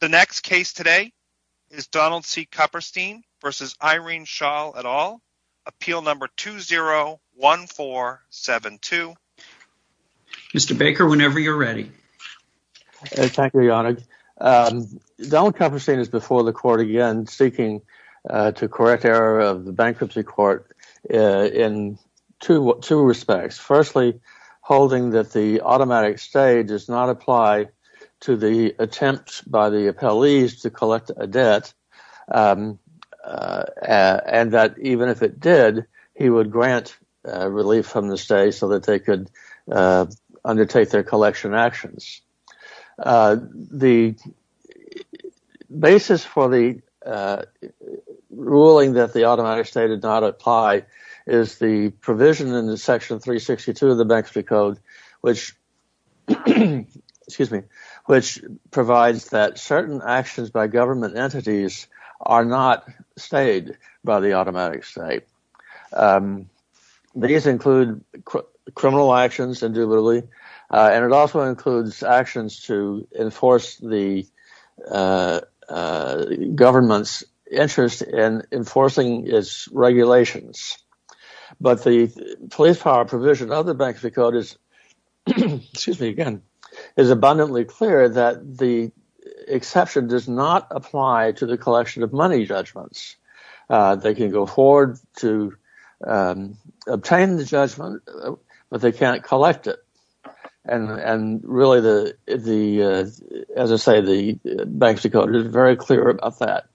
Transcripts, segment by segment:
The next case today is Donald C. Kupperstein v. Irene Schall et al., Appeal No. 201472. Mr. Baker, whenever you're ready. Thank you, Your Honor. Donald Kupperstein is before the Court again seeking to correct error of the Bankruptcy Court in two respects. Firstly, holding that the automatic stay does not apply to the attempt by the appellees to collect a debt and that even if it did, he would grant relief from the stay so that they could undertake their collection actions. The basis for the ruling that the automatic stay did not apply is the provision in the section 362 of the Bankruptcy Code, which provides that certain actions by government entities are not stayed by the automatic stay. These include criminal actions and it also includes actions to enforce the government's interest in enforcing its regulations. But the police power provision of the Bankruptcy Code is abundantly clear that the exception does not apply to the collection of money judgments. They can go forward to obtain the judgment, but they can't collect it. And really, as I say, the Bankruptcy Code is very clear about that.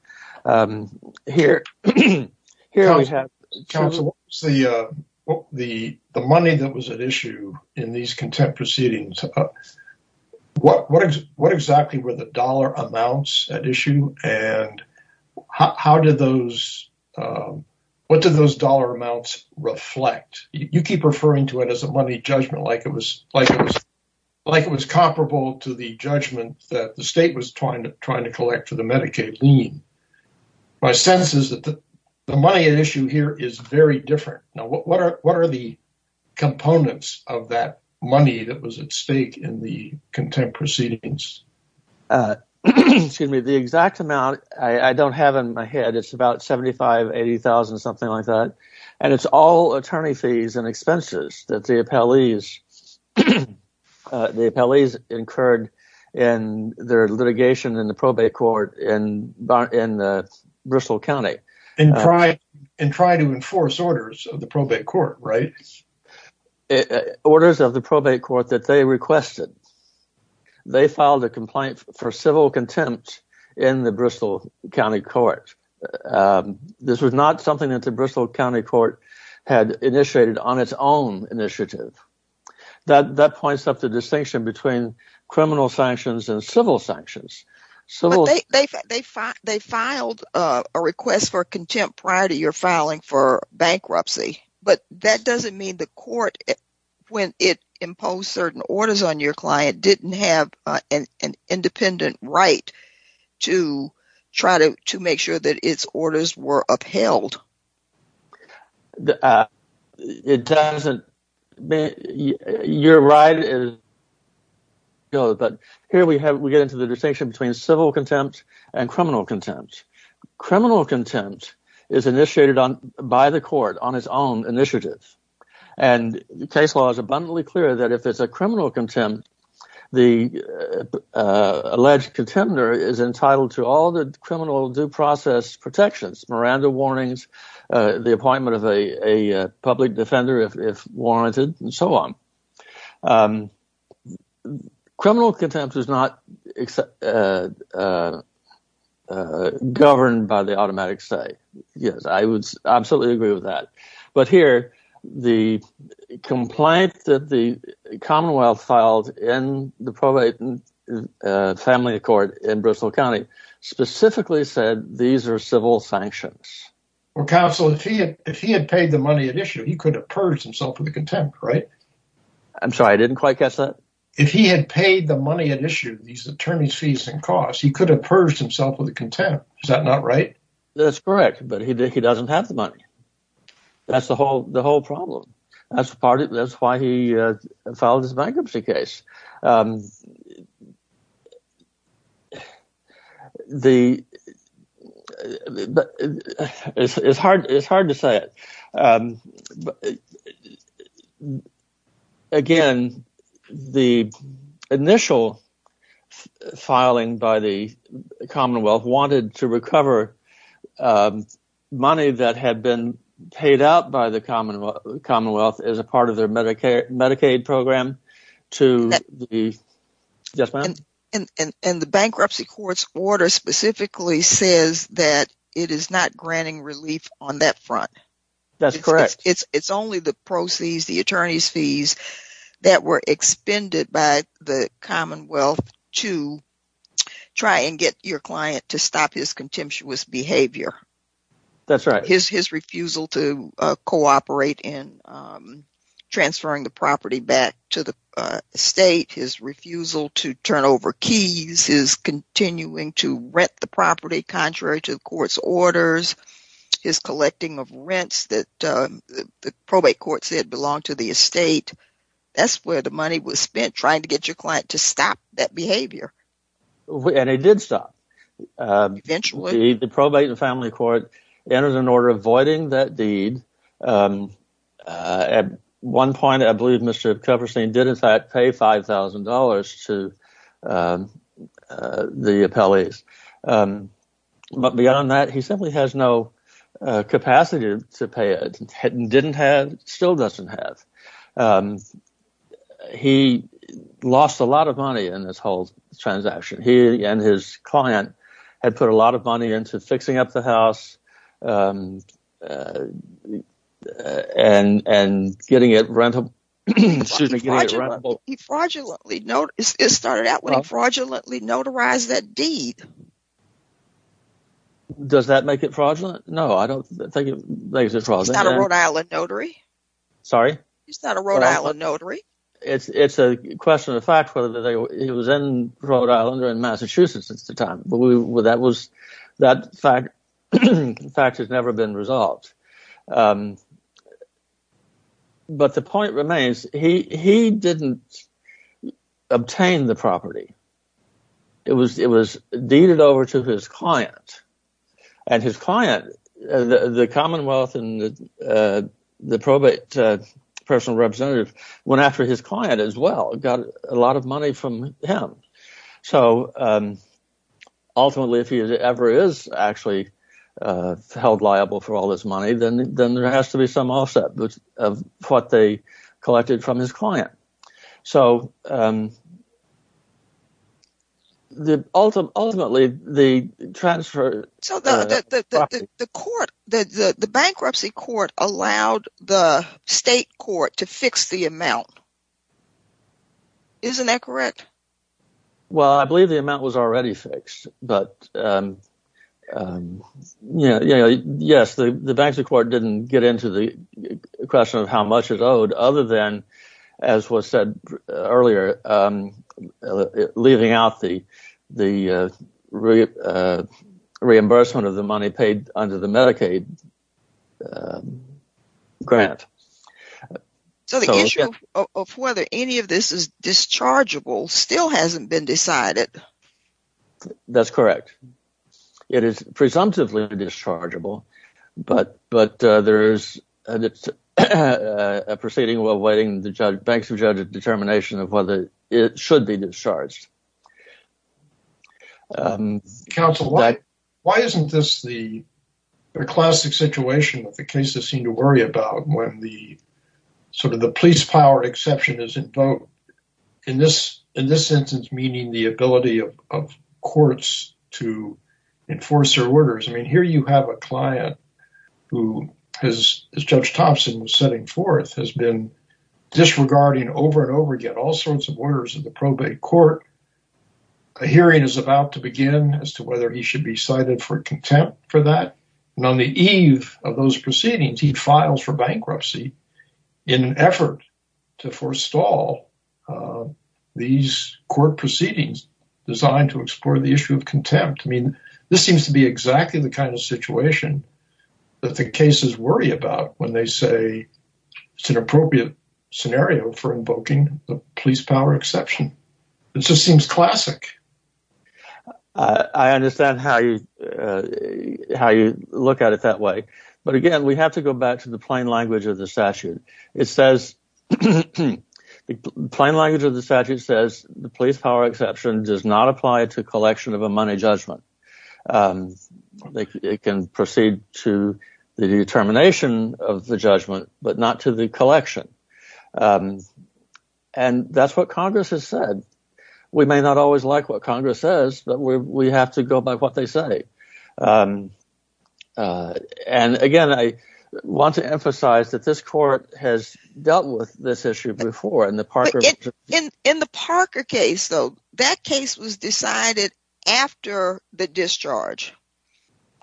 Counsel, the money that was at issue in these contempt proceedings, what exactly were the dollar amounts at issue? And what did those dollar amounts reflect? You keep referring to it as a money judgment, like it was comparable to the judgment that the state was trying to collect for the Medicaid lien. My sense is that the money at issue here is very different. Now, what are the components of that money that was at stake in the contempt proceedings? Excuse me, the exact amount I don't have in my head, it's about $75,000, $80,000, something like that. And it's all attorney fees and expenses that the appellees incurred in their litigation in the probate court in Bristol County. And tried to enforce orders of the probate court, right? Orders of the probate court that they requested. They filed a complaint for civil contempt in the Bristol County Court. This was not something that the Bristol County Court had initiated on its own initiative. That points up the distinction between criminal sanctions and civil sanctions. They filed a request for contempt prior to your filing for bankruptcy. But that doesn't mean the court, when it imposed certain orders on your client, didn't have an independent right to try to make sure that its orders were upheld. Here we get into the distinction between civil contempt and criminal contempt. Criminal contempt is initiated by the court on its own initiative. And case law is abundantly clear that if it's a criminal contempt, the alleged contender is entitled to all the criminal due process protections. Miranda warnings, the appointment of a public defender if warranted, and so on. Criminal contempt is not governed by the automatic say. Yes, I would absolutely agree with that. But here, the complaint that the Commonwealth filed in the probate family court in Bristol County specifically said these are civil sanctions. Counsel, if he had paid the money at issue, he could have purged himself for the contempt, right? I'm sorry, I didn't quite catch that. If he had paid the money at issue, these attorney's fees and costs, he could have purged himself for the contempt. Is that not right? That's correct, but he doesn't have the money. That's the whole problem. That's why he filed his bankruptcy case. It's hard to say. Again, the initial filing by the Commonwealth wanted to recover money that had been paid out by the Commonwealth as a part of their Medicaid program. And the bankruptcy court's order specifically says that it is not granting relief on that front. That's correct. It's only the proceeds, the attorney's fees, that were expended by the Commonwealth to try and get your client to stop his contemptuous behavior. That's right. His refusal to cooperate in transferring the property back to the state, his refusal to turn over keys, his continuing to rent the property contrary to the court's orders, his collecting of rents that the probate court said belonged to the estate. That's where the money was spent trying to get your client to stop that behavior. And it did stop. Eventually. The probate and family court entered an order voiding that deed. At one point, I believe Mr. Kupferstein did in fact pay $5,000 to the appellees. But beyond that, he simply has no capacity to pay it and didn't have – still doesn't have. He lost a lot of money in this whole transaction. He and his client had put a lot of money into fixing up the house and getting it rentable. He fraudulently – it started out when he fraudulently notarized that deed. Does that make it fraudulent? No, I don't think it makes it fraudulent. He's not a Rhode Island notary. Sorry? He's not a Rhode Island notary. It's a question of fact whether he was in Rhode Island or in Massachusetts at the time. That fact has never been resolved. But the point remains, he didn't obtain the property. It was deeded over to his client. And his client, the commonwealth and the probate personal representative went after his client as well. Got a lot of money from him. So ultimately, if he ever is actually held liable for all this money, then there has to be some offset of what they collected from his client. So ultimately, the transfer – The bankruptcy court allowed the state court to fix the amount. Isn't that correct? Well, I believe the amount was already fixed. But yes, the bankruptcy court didn't get into the question of how much it owed other than, as was said earlier, leaving out the reimbursement of the money paid under the Medicaid grant. So the issue of whether any of this is dischargeable still hasn't been decided. That's correct. It is presumptively dischargeable, but there is a proceeding awaiting the bankruptcy judge's determination of whether it should be discharged. Counsel, why isn't this the classic situation that the cases seem to worry about when the police power exception is invoked? In this instance, meaning the ability of courts to enforce their orders. I mean, here you have a client who, as Judge Thompson was setting forth, has been disregarding over and over again all sorts of orders of the probate court. A hearing is about to begin as to whether he should be cited for contempt for that. And on the eve of those proceedings, he files for bankruptcy in an effort to forestall these court proceedings designed to explore the issue of contempt. I mean, this seems to be exactly the kind of situation that the cases worry about when they say it's an appropriate scenario for invoking the police power exception. It just seems classic. I understand how you look at it that way. But again, we have to go back to the plain language of the statute. The plain language of the statute says the police power exception does not apply to collection of a money judgment. It can proceed to the determination of the judgment, but not to the collection. And that's what Congress has said. We may not always like what Congress says, but we have to go by what they say. And again, I want to emphasize that this court has dealt with this issue before. In the Parker case, though, that case was decided after the discharge.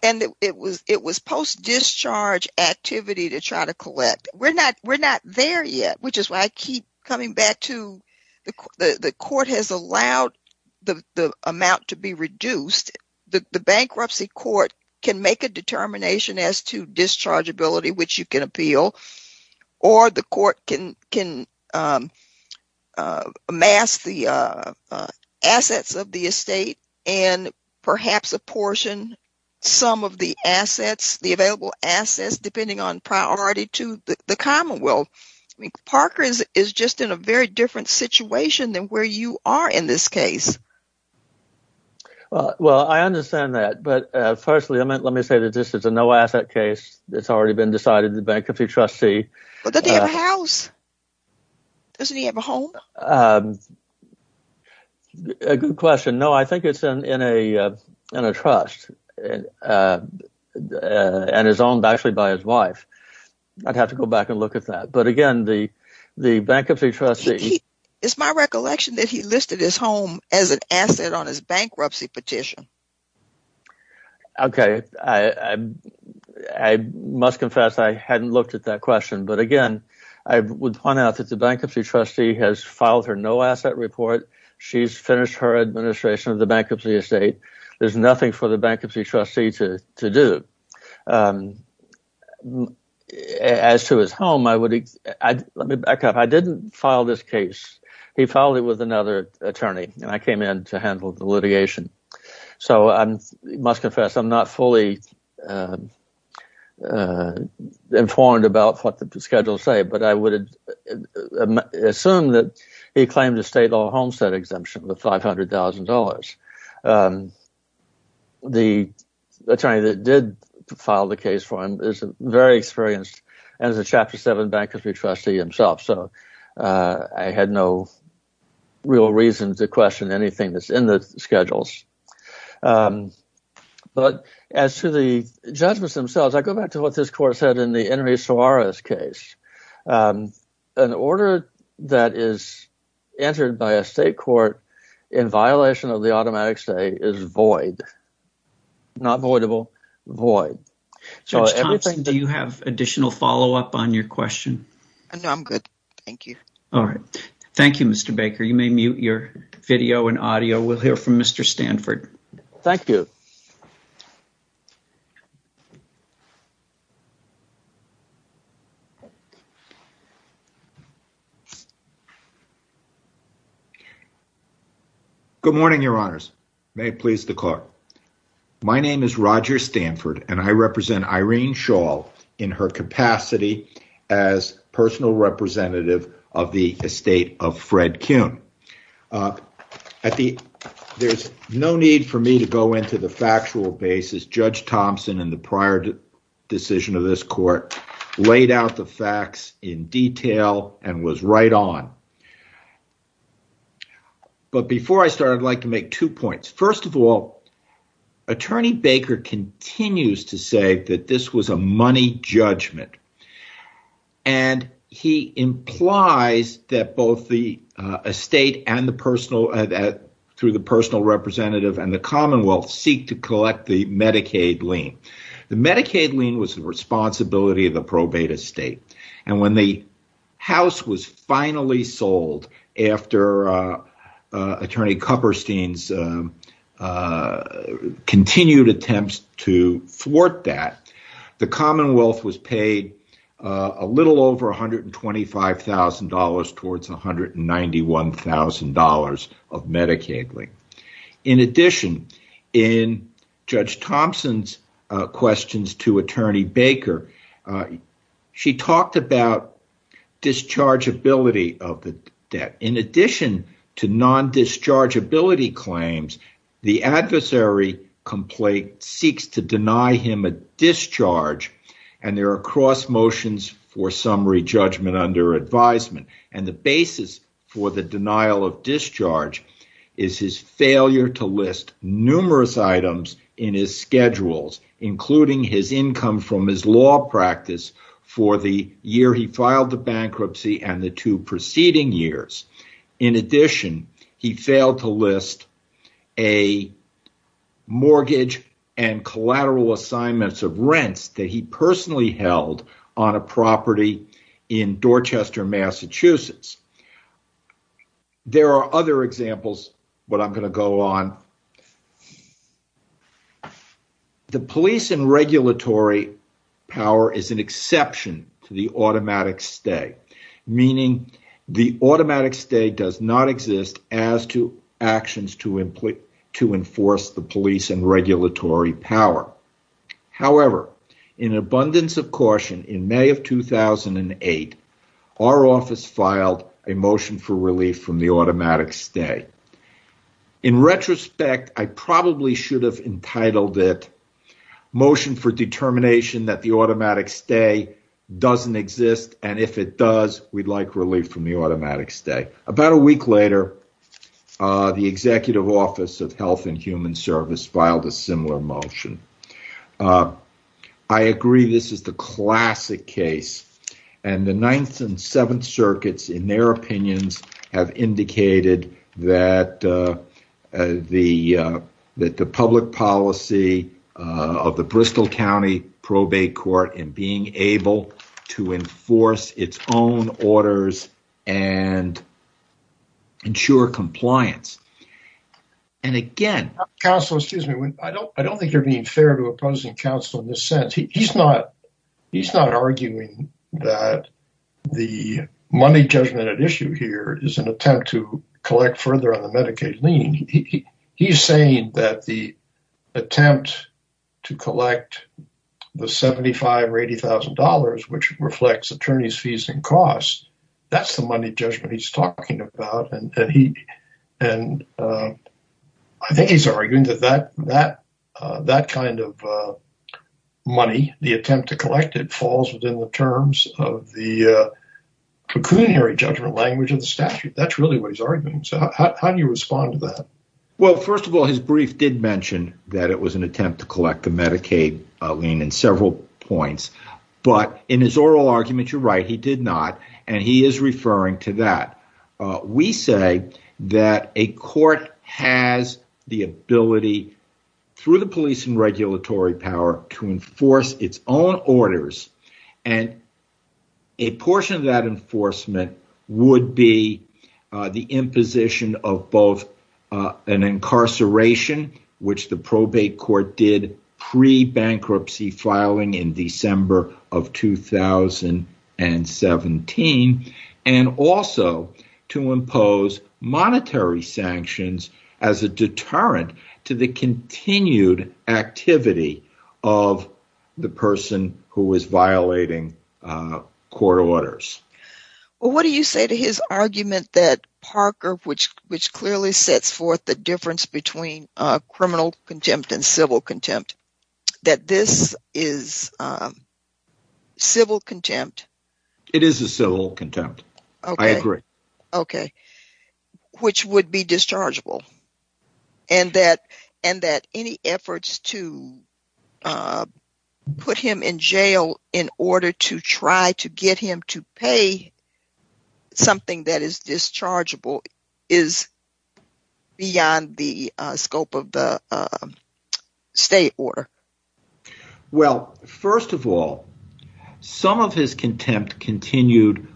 And it was post-discharge activity to try to collect. We're not there yet, which is why I keep coming back to the court has allowed the amount to be reduced. The bankruptcy court can make a determination as to discharge ability, which you can appeal. Or the court can amass the assets of the estate and perhaps apportion some of the assets, the available assets, depending on priority to the Commonwealth. Parker is just in a very different situation than where you are in this case. Well, I understand that. But firstly, let me say that this is a no asset case. It's already been decided. The bankruptcy trustee. But they have a house. Doesn't he have a home? A good question. No, I think it's in a in a trust and is owned actually by his wife. I'd have to go back and look at that. But again, the the bankruptcy trustee. It's my recollection that he listed his home as an asset on his bankruptcy petition. OK, I must confess I hadn't looked at that question. But again, I would point out that the bankruptcy trustee has filed her no asset report. She's finished her administration of the bankruptcy estate. There's nothing for the bankruptcy trustee to do as to his home. Let me back up. I didn't file this case. He filed it with another attorney. And I came in to handle the litigation. So I must confess I'm not fully informed about what the schedules say. But I would assume that he claimed a state law homestead exemption with five hundred thousand dollars. The attorney that did file the case for him is very experienced as a chapter seven bankruptcy trustee himself. So I had no real reason to question anything that's in the schedules. But as to the judgments themselves, I go back to what this court said in the Henry Suarez case. An order that is entered by a state court in violation of the automatic say is void. Not avoidable void. So do you have additional follow up on your question? I'm good. Thank you. All right. Thank you, Mr. Baker. You may mute your video and audio. We'll hear from Mr. Stanford. Thank you. Good morning, your honors. May it please the court. My name is Roger Stanford and I represent Irene Shaw in her capacity as personal representative of the estate of Fred Kuhn at the. There's no need for me to go into the factual basis. Judge Thompson and the prior decision of this court laid out the facts in detail and was right on. But before I start, I'd like to make two points. First of all, attorney Baker continues to say that this was a money judgment. And he implies that both the estate and the personal that through the personal representative and the Commonwealth seek to collect the Medicaid lien. The Medicaid lien was the responsibility of the probate estate. And when the house was finally sold after attorney Copperstein's continued attempts to thwart that, the Commonwealth was paid a little over one hundred and twenty five thousand dollars towards one hundred and ninety one thousand dollars of Medicaid. In addition, in Judge Thompson's questions to attorney Baker, she talked about discharge ability of the debt. In addition to non discharge ability claims, the adversary complaint seeks to deny him a discharge and there are cross motions for summary judgment under advisement. And the basis for the denial of discharge is his failure to list numerous items in his schedules, including his income from his law practice for the year he filed the bankruptcy and the two preceding years. In addition, he failed to list a mortgage and collateral assignments of rents that he personally held on a property in Dorchester, Massachusetts. There are other examples, but I'm going to go on. The police and regulatory power is an exception to the automatic stay, meaning the automatic stay does not exist as to actions to employ to enforce the police and regulatory power. However, in abundance of caution in May of 2008, our office filed a motion for relief from the automatic stay. In retrospect, I probably should have entitled it motion for determination that the automatic stay doesn't exist. And if it does, we'd like relief from the automatic stay. About a week later, the executive office of Health and Human Service filed a similar motion. I agree this is the classic case and the 9th and 7th circuits, in their opinions, have indicated that the that the public policy of the Bristol County probate court and being able to enforce its own orders and. Ensure compliance. And again, counsel, excuse me, I don't I don't think you're being fair to opposing counsel in this sense. He's not he's not arguing that the money judgment at issue here is an attempt to collect further on the Medicaid lien. He's saying that the attempt to collect the seventy five or eighty thousand dollars, which reflects attorneys fees and costs. That's the money judgment he's talking about. And he and I think he's arguing that that that that kind of money, the attempt to collect it, falls within the terms of the pecuniary judgment language of the statute. That's really what he's arguing. So how do you respond to that? Well, first of all, his brief did mention that it was an attempt to collect the Medicaid lien in several points. But in his oral argument, you're right. He did not. And he is referring to that. We say that a court has the ability through the police and regulatory power to enforce its own orders. And a portion of that enforcement would be the imposition of both an incarceration, which the probate court did pre-bankruptcy filing in December of 2017, and also to impose monetary sanctions as a deterrent to the continued activity of the person who is violating court orders. Well, what do you say to his argument that Parker, which which clearly sets forth the difference between criminal contempt and civil contempt, that this is civil contempt? It is a civil contempt. I agree. OK. Which would be dischargeable. And that and that any efforts to put him in jail in order to try to get him to pay something that is dischargeable is beyond the scope of the state order. Well, first of all, some of his contempt continued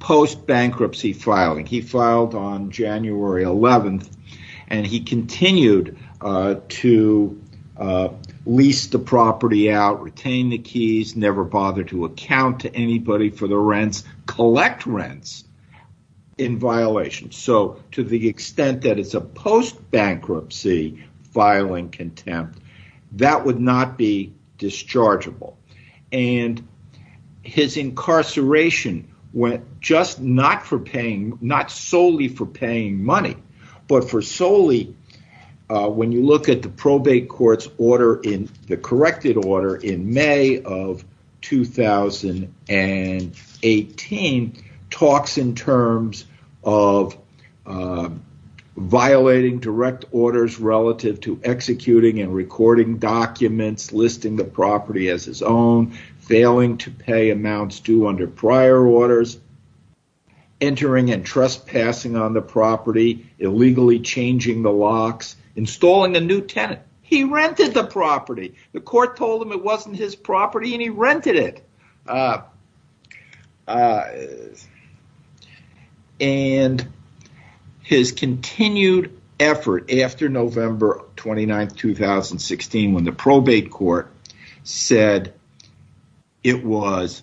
post-bankruptcy filing. He filed on January 11th and he continued to lease the property out, retain the keys, never bothered to account to anybody for the rents, collect rents in violation. So to the extent that it's a post-bankruptcy filing contempt, that would not be dischargeable. And his incarceration went just not for paying, not solely for paying money, but for solely when you look at the probate court's order in the corrected order in May of 2018, talks in terms of violating direct orders relative to executing and recording documents, listing the property as his own, failing to pay amounts due under prior orders. Entering and trespassing on the property, illegally changing the locks, installing a new tenant. He rented the property. The court told him it wasn't his property and he rented it. And his continued effort after November 29th, 2016, when the probate court said it was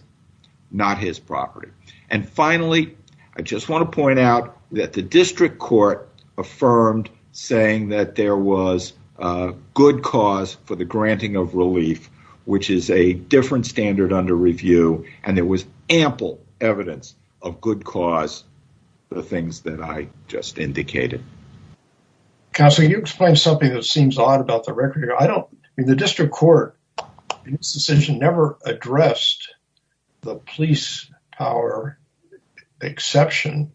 not his property. And finally, I just want to point out that the district court affirmed saying that there was a good cause for the granting of relief, which is a different standard under review. And there was ample evidence of good cause, the things that I just indicated. Counselor, can you explain something that seems odd about the record? The district court's decision never addressed the police power exception.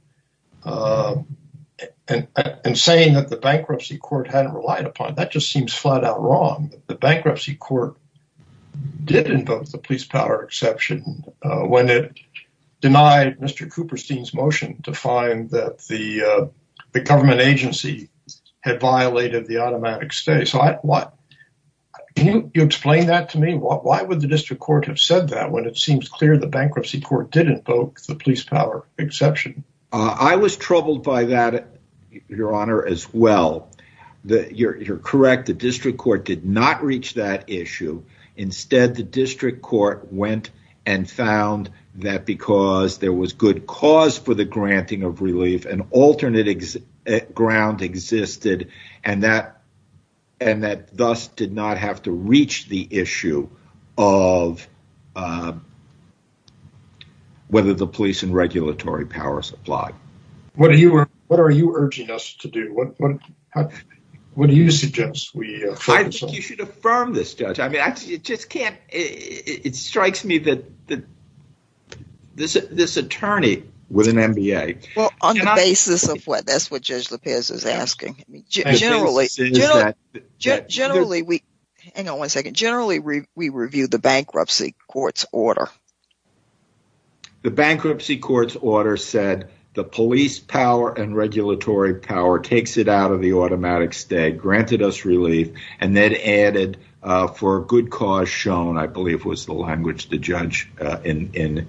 And saying that the bankruptcy court hadn't relied upon, that just seems flat out wrong. The bankruptcy court did invoke the police power exception when it denied Mr. Cooperstein's motion to find that the government agency had violated the automatic stay. Can you explain that to me? Why would the district court have said that when it seems clear the bankruptcy court did invoke the police power exception? I was troubled by that, your honor, as well. You're correct. The district court did not reach that issue. Instead, the district court went and found that because there was good cause for the granting of relief, an alternate ground existed. And that thus did not have to reach the issue of whether the police and regulatory powers applied. What are you urging us to do? What do you suggest we try to do? I think you should affirm this, Judge. It strikes me that this attorney with an MBA… That's what Judge LaPierre is asking. Generally, we review the bankruptcy court's order. The bankruptcy court's order said the police power and regulatory power takes it out of the automatic stay, granted us relief, and then added for good cause shown, I believe was the language the judge in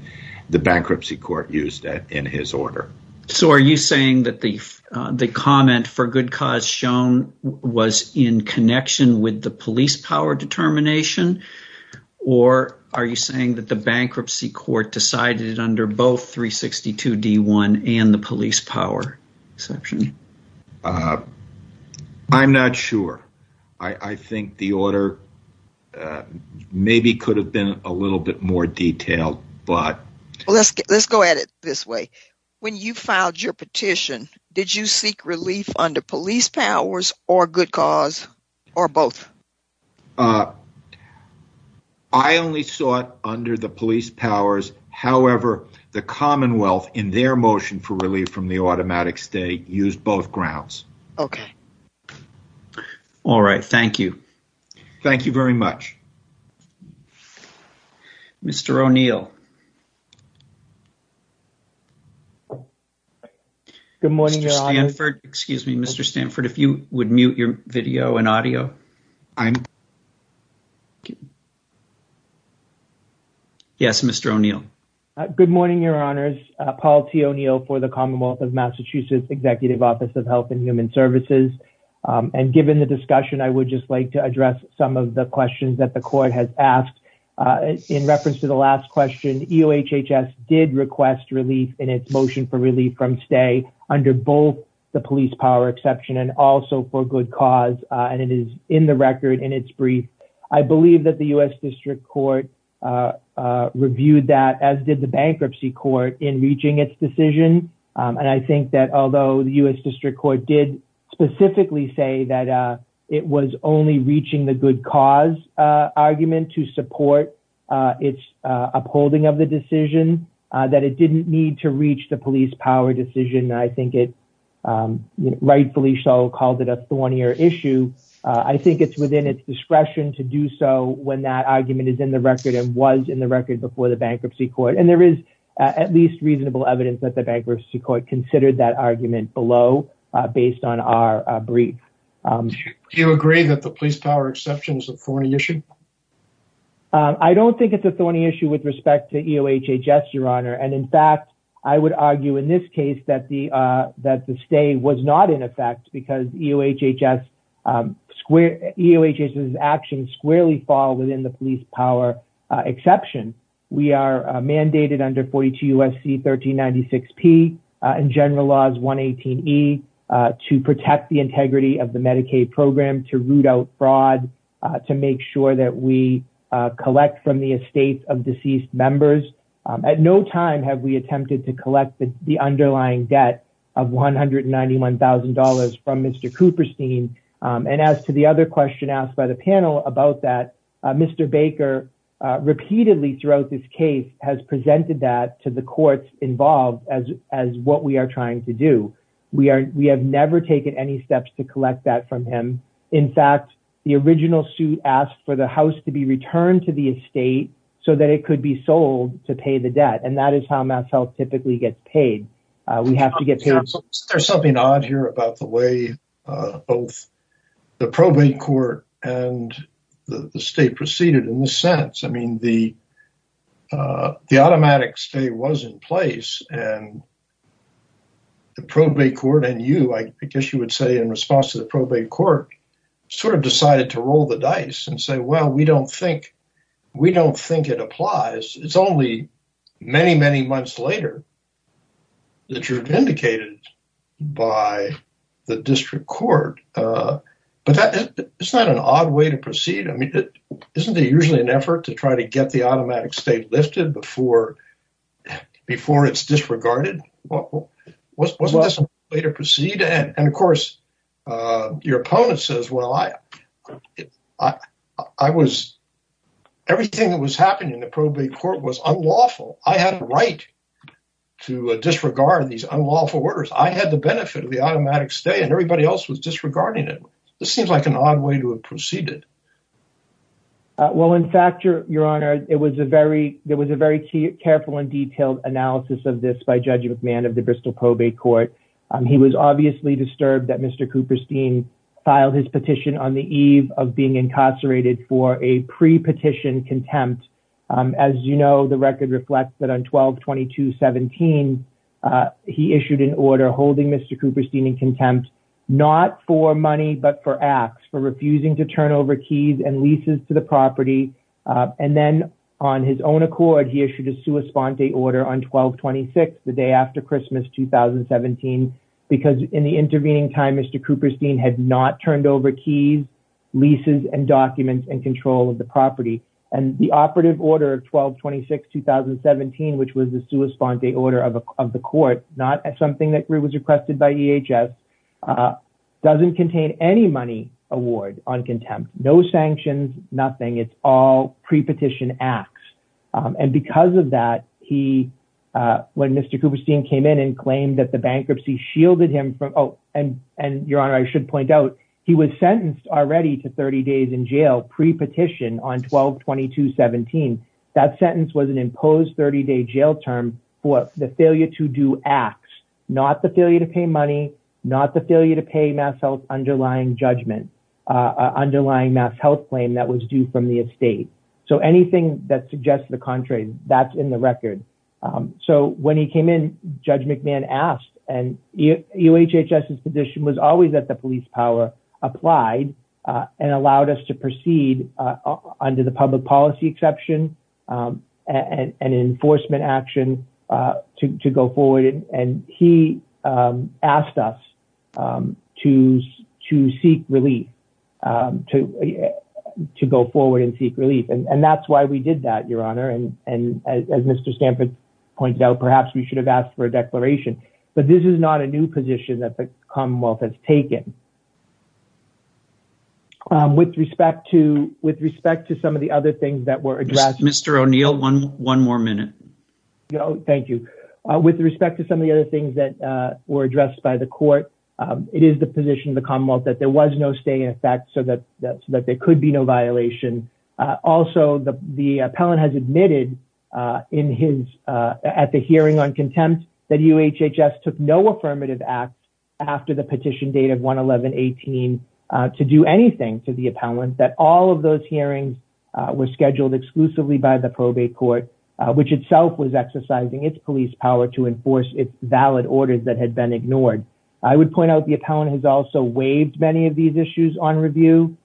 the bankruptcy court used in his order. So are you saying that the comment for good cause shown was in connection with the police power determination? Or are you saying that the bankruptcy court decided it under both 362 D1 and the police power exception? I'm not sure. I think the order maybe could have been a little bit more detailed. Let's go at it this way. When you filed your petition, did you seek relief under police powers or good cause or both? I only sought under the police powers. However, the Commonwealth, in their motion for relief from the automatic stay, used both grounds. Okay. All right. Thank you. Thank you very much. Mr. O'Neill. Good morning. Excuse me, Mr. Stanford, if you would mute your video and audio. Yes, Mr. O'Neill. Good morning, Your Honors. Paul T. O'Neill for the Commonwealth of Massachusetts Executive Office of Health and Human Services. And given the discussion, I would just like to address some of the questions that the court has asked. In reference to the last question, EOHHS did request relief in its motion for relief from stay under both the police power exception and also for good cause. And it is in the record in its brief. I believe that the U.S. District Court reviewed that, as did the bankruptcy court, in reaching its decision. And I think that although the U.S. District Court did specifically say that it was only reaching the good cause argument to support its upholding of the decision, that it didn't need to reach the police power decision. I think it rightfully so called it a thornier issue. I think it's within its discretion to do so when that argument is in the record and was in the record before the bankruptcy court. And there is at least reasonable evidence that the bankruptcy court considered that argument below based on our brief. Do you agree that the police power exception is a thorny issue? I don't think it's a thorny issue with respect to EOHHS, Your Honor. And in fact, I would argue in this case that the stay was not in effect because EOHHS's actions squarely fall within the police power exception. We are mandated under 42 U.S.C. 1396P and General Laws 118E to protect the integrity of the Medicaid program, to root out fraud, to make sure that we collect from the estates of deceased members. At no time have we attempted to collect the underlying debt of $191,000 from Mr. Cooperstein. And as to the other question asked by the panel about that, Mr. Baker repeatedly throughout this case has presented that to the courts involved as what we are trying to do. We have never taken any steps to collect that from him. In fact, the original suit asked for the house to be returned to the estate so that it could be sold to pay the debt. And that is how MassHealth typically gets paid. There's something odd here about the way both the probate court and the state proceeded in this sense. I mean, the automatic stay was in place and the probate court and you, I guess you would say in response to the probate court, sort of decided to roll the dice and say, well, we don't think it applies. It's only many, many months later that you're vindicated by the district court. But it's not an odd way to proceed. I mean, isn't there usually an effort to try to get the automatic stay lifted before it's disregarded? Wasn't this a way to proceed? And of course, your opponent says, well, I was, everything that was happening in the probate court was unlawful. I had a right to disregard these unlawful orders. I had the benefit of the automatic stay and everybody else was disregarding it. Well, in fact, your honor, it was a very, it was a very careful and detailed analysis of this by Judge McMahon of the Bristol Probate Court. He was obviously disturbed that Mr. Cooperstein filed his petition on the eve of being incarcerated for a pre-petition contempt. As you know, the record reflects that on 12-22-17, he issued an order holding Mr. Cooperstein in contempt, not for money, but for acts, for refusing to turn over keys and leases to the property. And then on his own accord, he issued a sua sponte order on 12-26, the day after Christmas 2017, because in the intervening time, Mr. Cooperstein had not turned over keys, leases and documents and control of the property. And the operative order of 12-26-2017, which was the sua sponte order of the court, not something that was requested by EHS, doesn't contain any money award on contempt. No sanctions, nothing. It's all pre-petition acts. And because of that, he, when Mr. Cooperstein came in and claimed that the bankruptcy shielded him from, oh, and your honor, I should point out, he was sentenced already to 30 days in jail pre-petition on 12-22-17. That sentence was an imposed 30-day jail term for the failure to do acts, not the failure to pay money, not the failure to pay MassHealth's underlying judgment, underlying MassHealth claim that was due from the estate. So anything that suggests the contrary, that's in the record. So when he came in, Judge McMahon asked, and EHHS's position was always that the police power applied and allowed us to proceed under the public policy exception and enforcement action to go forward. And he asked us to seek relief, to go forward and seek relief. And that's why we did that, your honor. And as Mr. Stanford pointed out, perhaps we should have asked for a declaration. But this is not a new position that the Commonwealth has taken. With respect to some of the other things that were addressed. Mr. O'Neill, one more minute. Thank you. With respect to some of the other things that were addressed by the court, it is the position of the Commonwealth that there was no stay in effect so that there could be no violation. Also, the appellant has admitted at the hearing on contempt that UHHS took no affirmative act after the petition date of 1-11-18 to do anything to the appellant. That all of those hearings were scheduled exclusively by the probate court, which itself was exercising its police power to enforce its valid orders that had been ignored. I would point out the appellant has also waived many of these issues on review.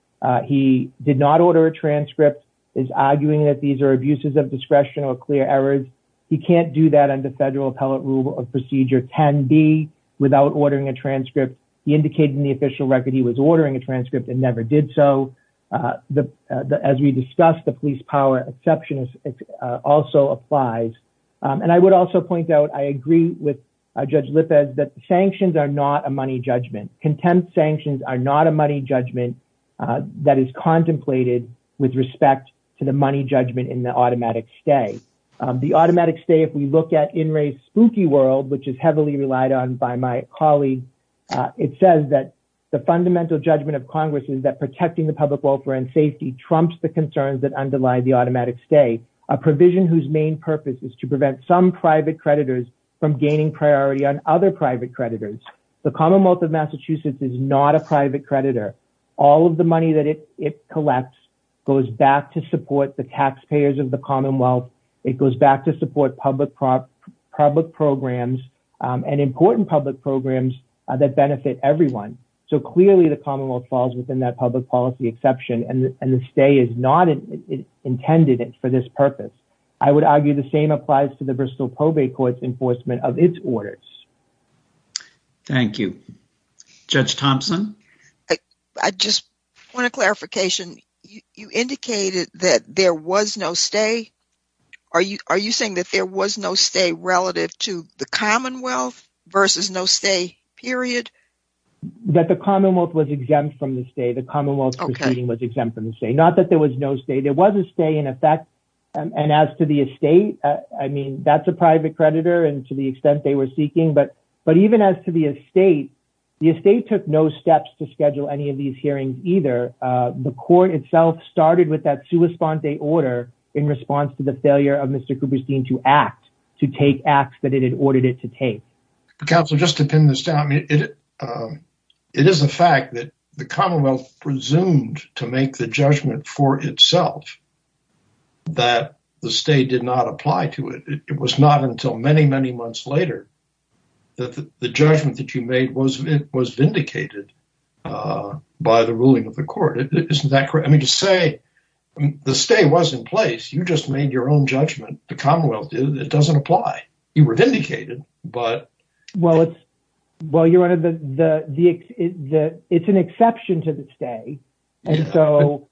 He did not order a transcript. Is arguing that these are abuses of discretion or clear errors. He can't do that under federal appellate rule of procedure. Can be without ordering a transcript. He indicated in the official record he was ordering a transcript and never did so. As we discussed, the police power exception also applies. And I would also point out, I agree with Judge Lippez that sanctions are not a money judgment. Contempt sanctions are not a money judgment that is contemplated with respect to the money judgment in the automatic stay. The automatic stay, if we look at In Re's spooky world, which is heavily relied on by my colleague, it says that the fundamental judgment of Congress is that protecting the public welfare and safety trumps the concerns that underlie the automatic stay. A provision whose main purpose is to prevent some private creditors from gaining priority on other private creditors. The commonwealth of Massachusetts is not a private creditor. All of the money that it collects goes back to support the taxpayers of the commonwealth. It goes back to support public programs and important public programs that benefit everyone. So clearly the commonwealth falls within that public policy exception and the stay is not intended for this purpose. I would argue the same applies to the Bristol probate court's enforcement of its orders. Thank you, Judge Thompson. I just want a clarification. You indicated that there was no stay. Are you are you saying that there was no stay relative to the commonwealth versus no stay, period? That the commonwealth was exempt from the stay. The commonwealth was exempt from the stay. Not that there was no stay. There was a stay in effect. And as to the estate, I mean, that's a private creditor. And to the extent they were seeking. But but even as to the estate, the estate took no steps to schedule any of these hearings, either. The court itself started with that to respond. They order in response to the failure of Mr. Cooperstein to act to take acts that it had ordered it to take. Counsel, just to pin this down, it is a fact that the commonwealth presumed to make the judgment for itself. That the state did not apply to it. It was not until many, many months later that the judgment that you made was it was vindicated by the ruling of the court. Isn't that correct? I mean, to say the stay was in place. You just made your own judgment. The commonwealth. It doesn't apply. You were vindicated. But well, it's well, you're one of the the the it's an exception to the stay. And so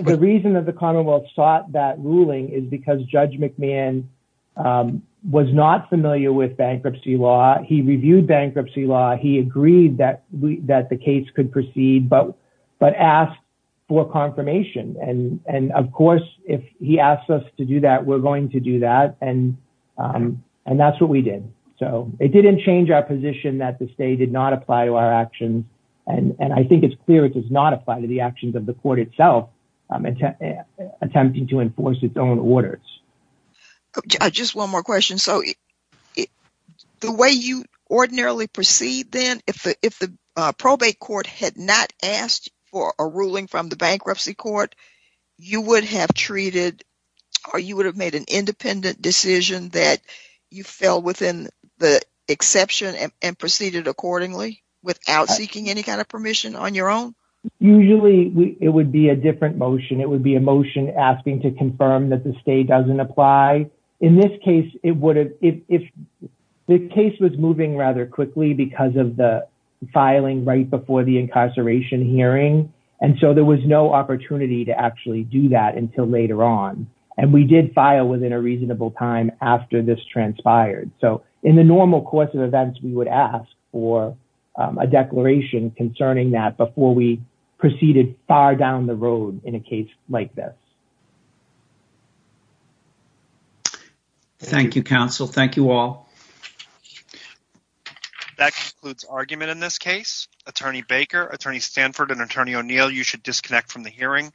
the reason that the commonwealth sought that ruling is because Judge McMahon was not familiar with bankruptcy law. He reviewed bankruptcy law. He agreed that that the case could proceed. But but asked for confirmation. And of course, if he asks us to do that, we're going to do that. And and that's what we did. So it didn't change our position that the state did not apply to our actions. And I think it's clear it does not apply to the actions of the court itself attempting to enforce its own orders. Just one more question. So the way you ordinarily proceed, then, if the if the probate court had not asked for a ruling from the bankruptcy court, you would have treated or you would have made an independent decision that you fell within the exception and proceeded accordingly without seeking any kind of permission on your own. Usually it would be a different motion. It would be a motion asking to confirm that the state doesn't apply. In this case, it would if the case was moving rather quickly because of the filing right before the incarceration hearing. And so there was no opportunity to actually do that until later on. And we did file within a reasonable time after this transpired. So in the normal course of events, we would ask for a declaration concerning that before we proceeded far down the road in a case like this. Thank you, counsel. Thank you all. That concludes argument in this case. Attorney Baker, Attorney Stanford and Attorney O'Neill, you should disconnect from the hearing.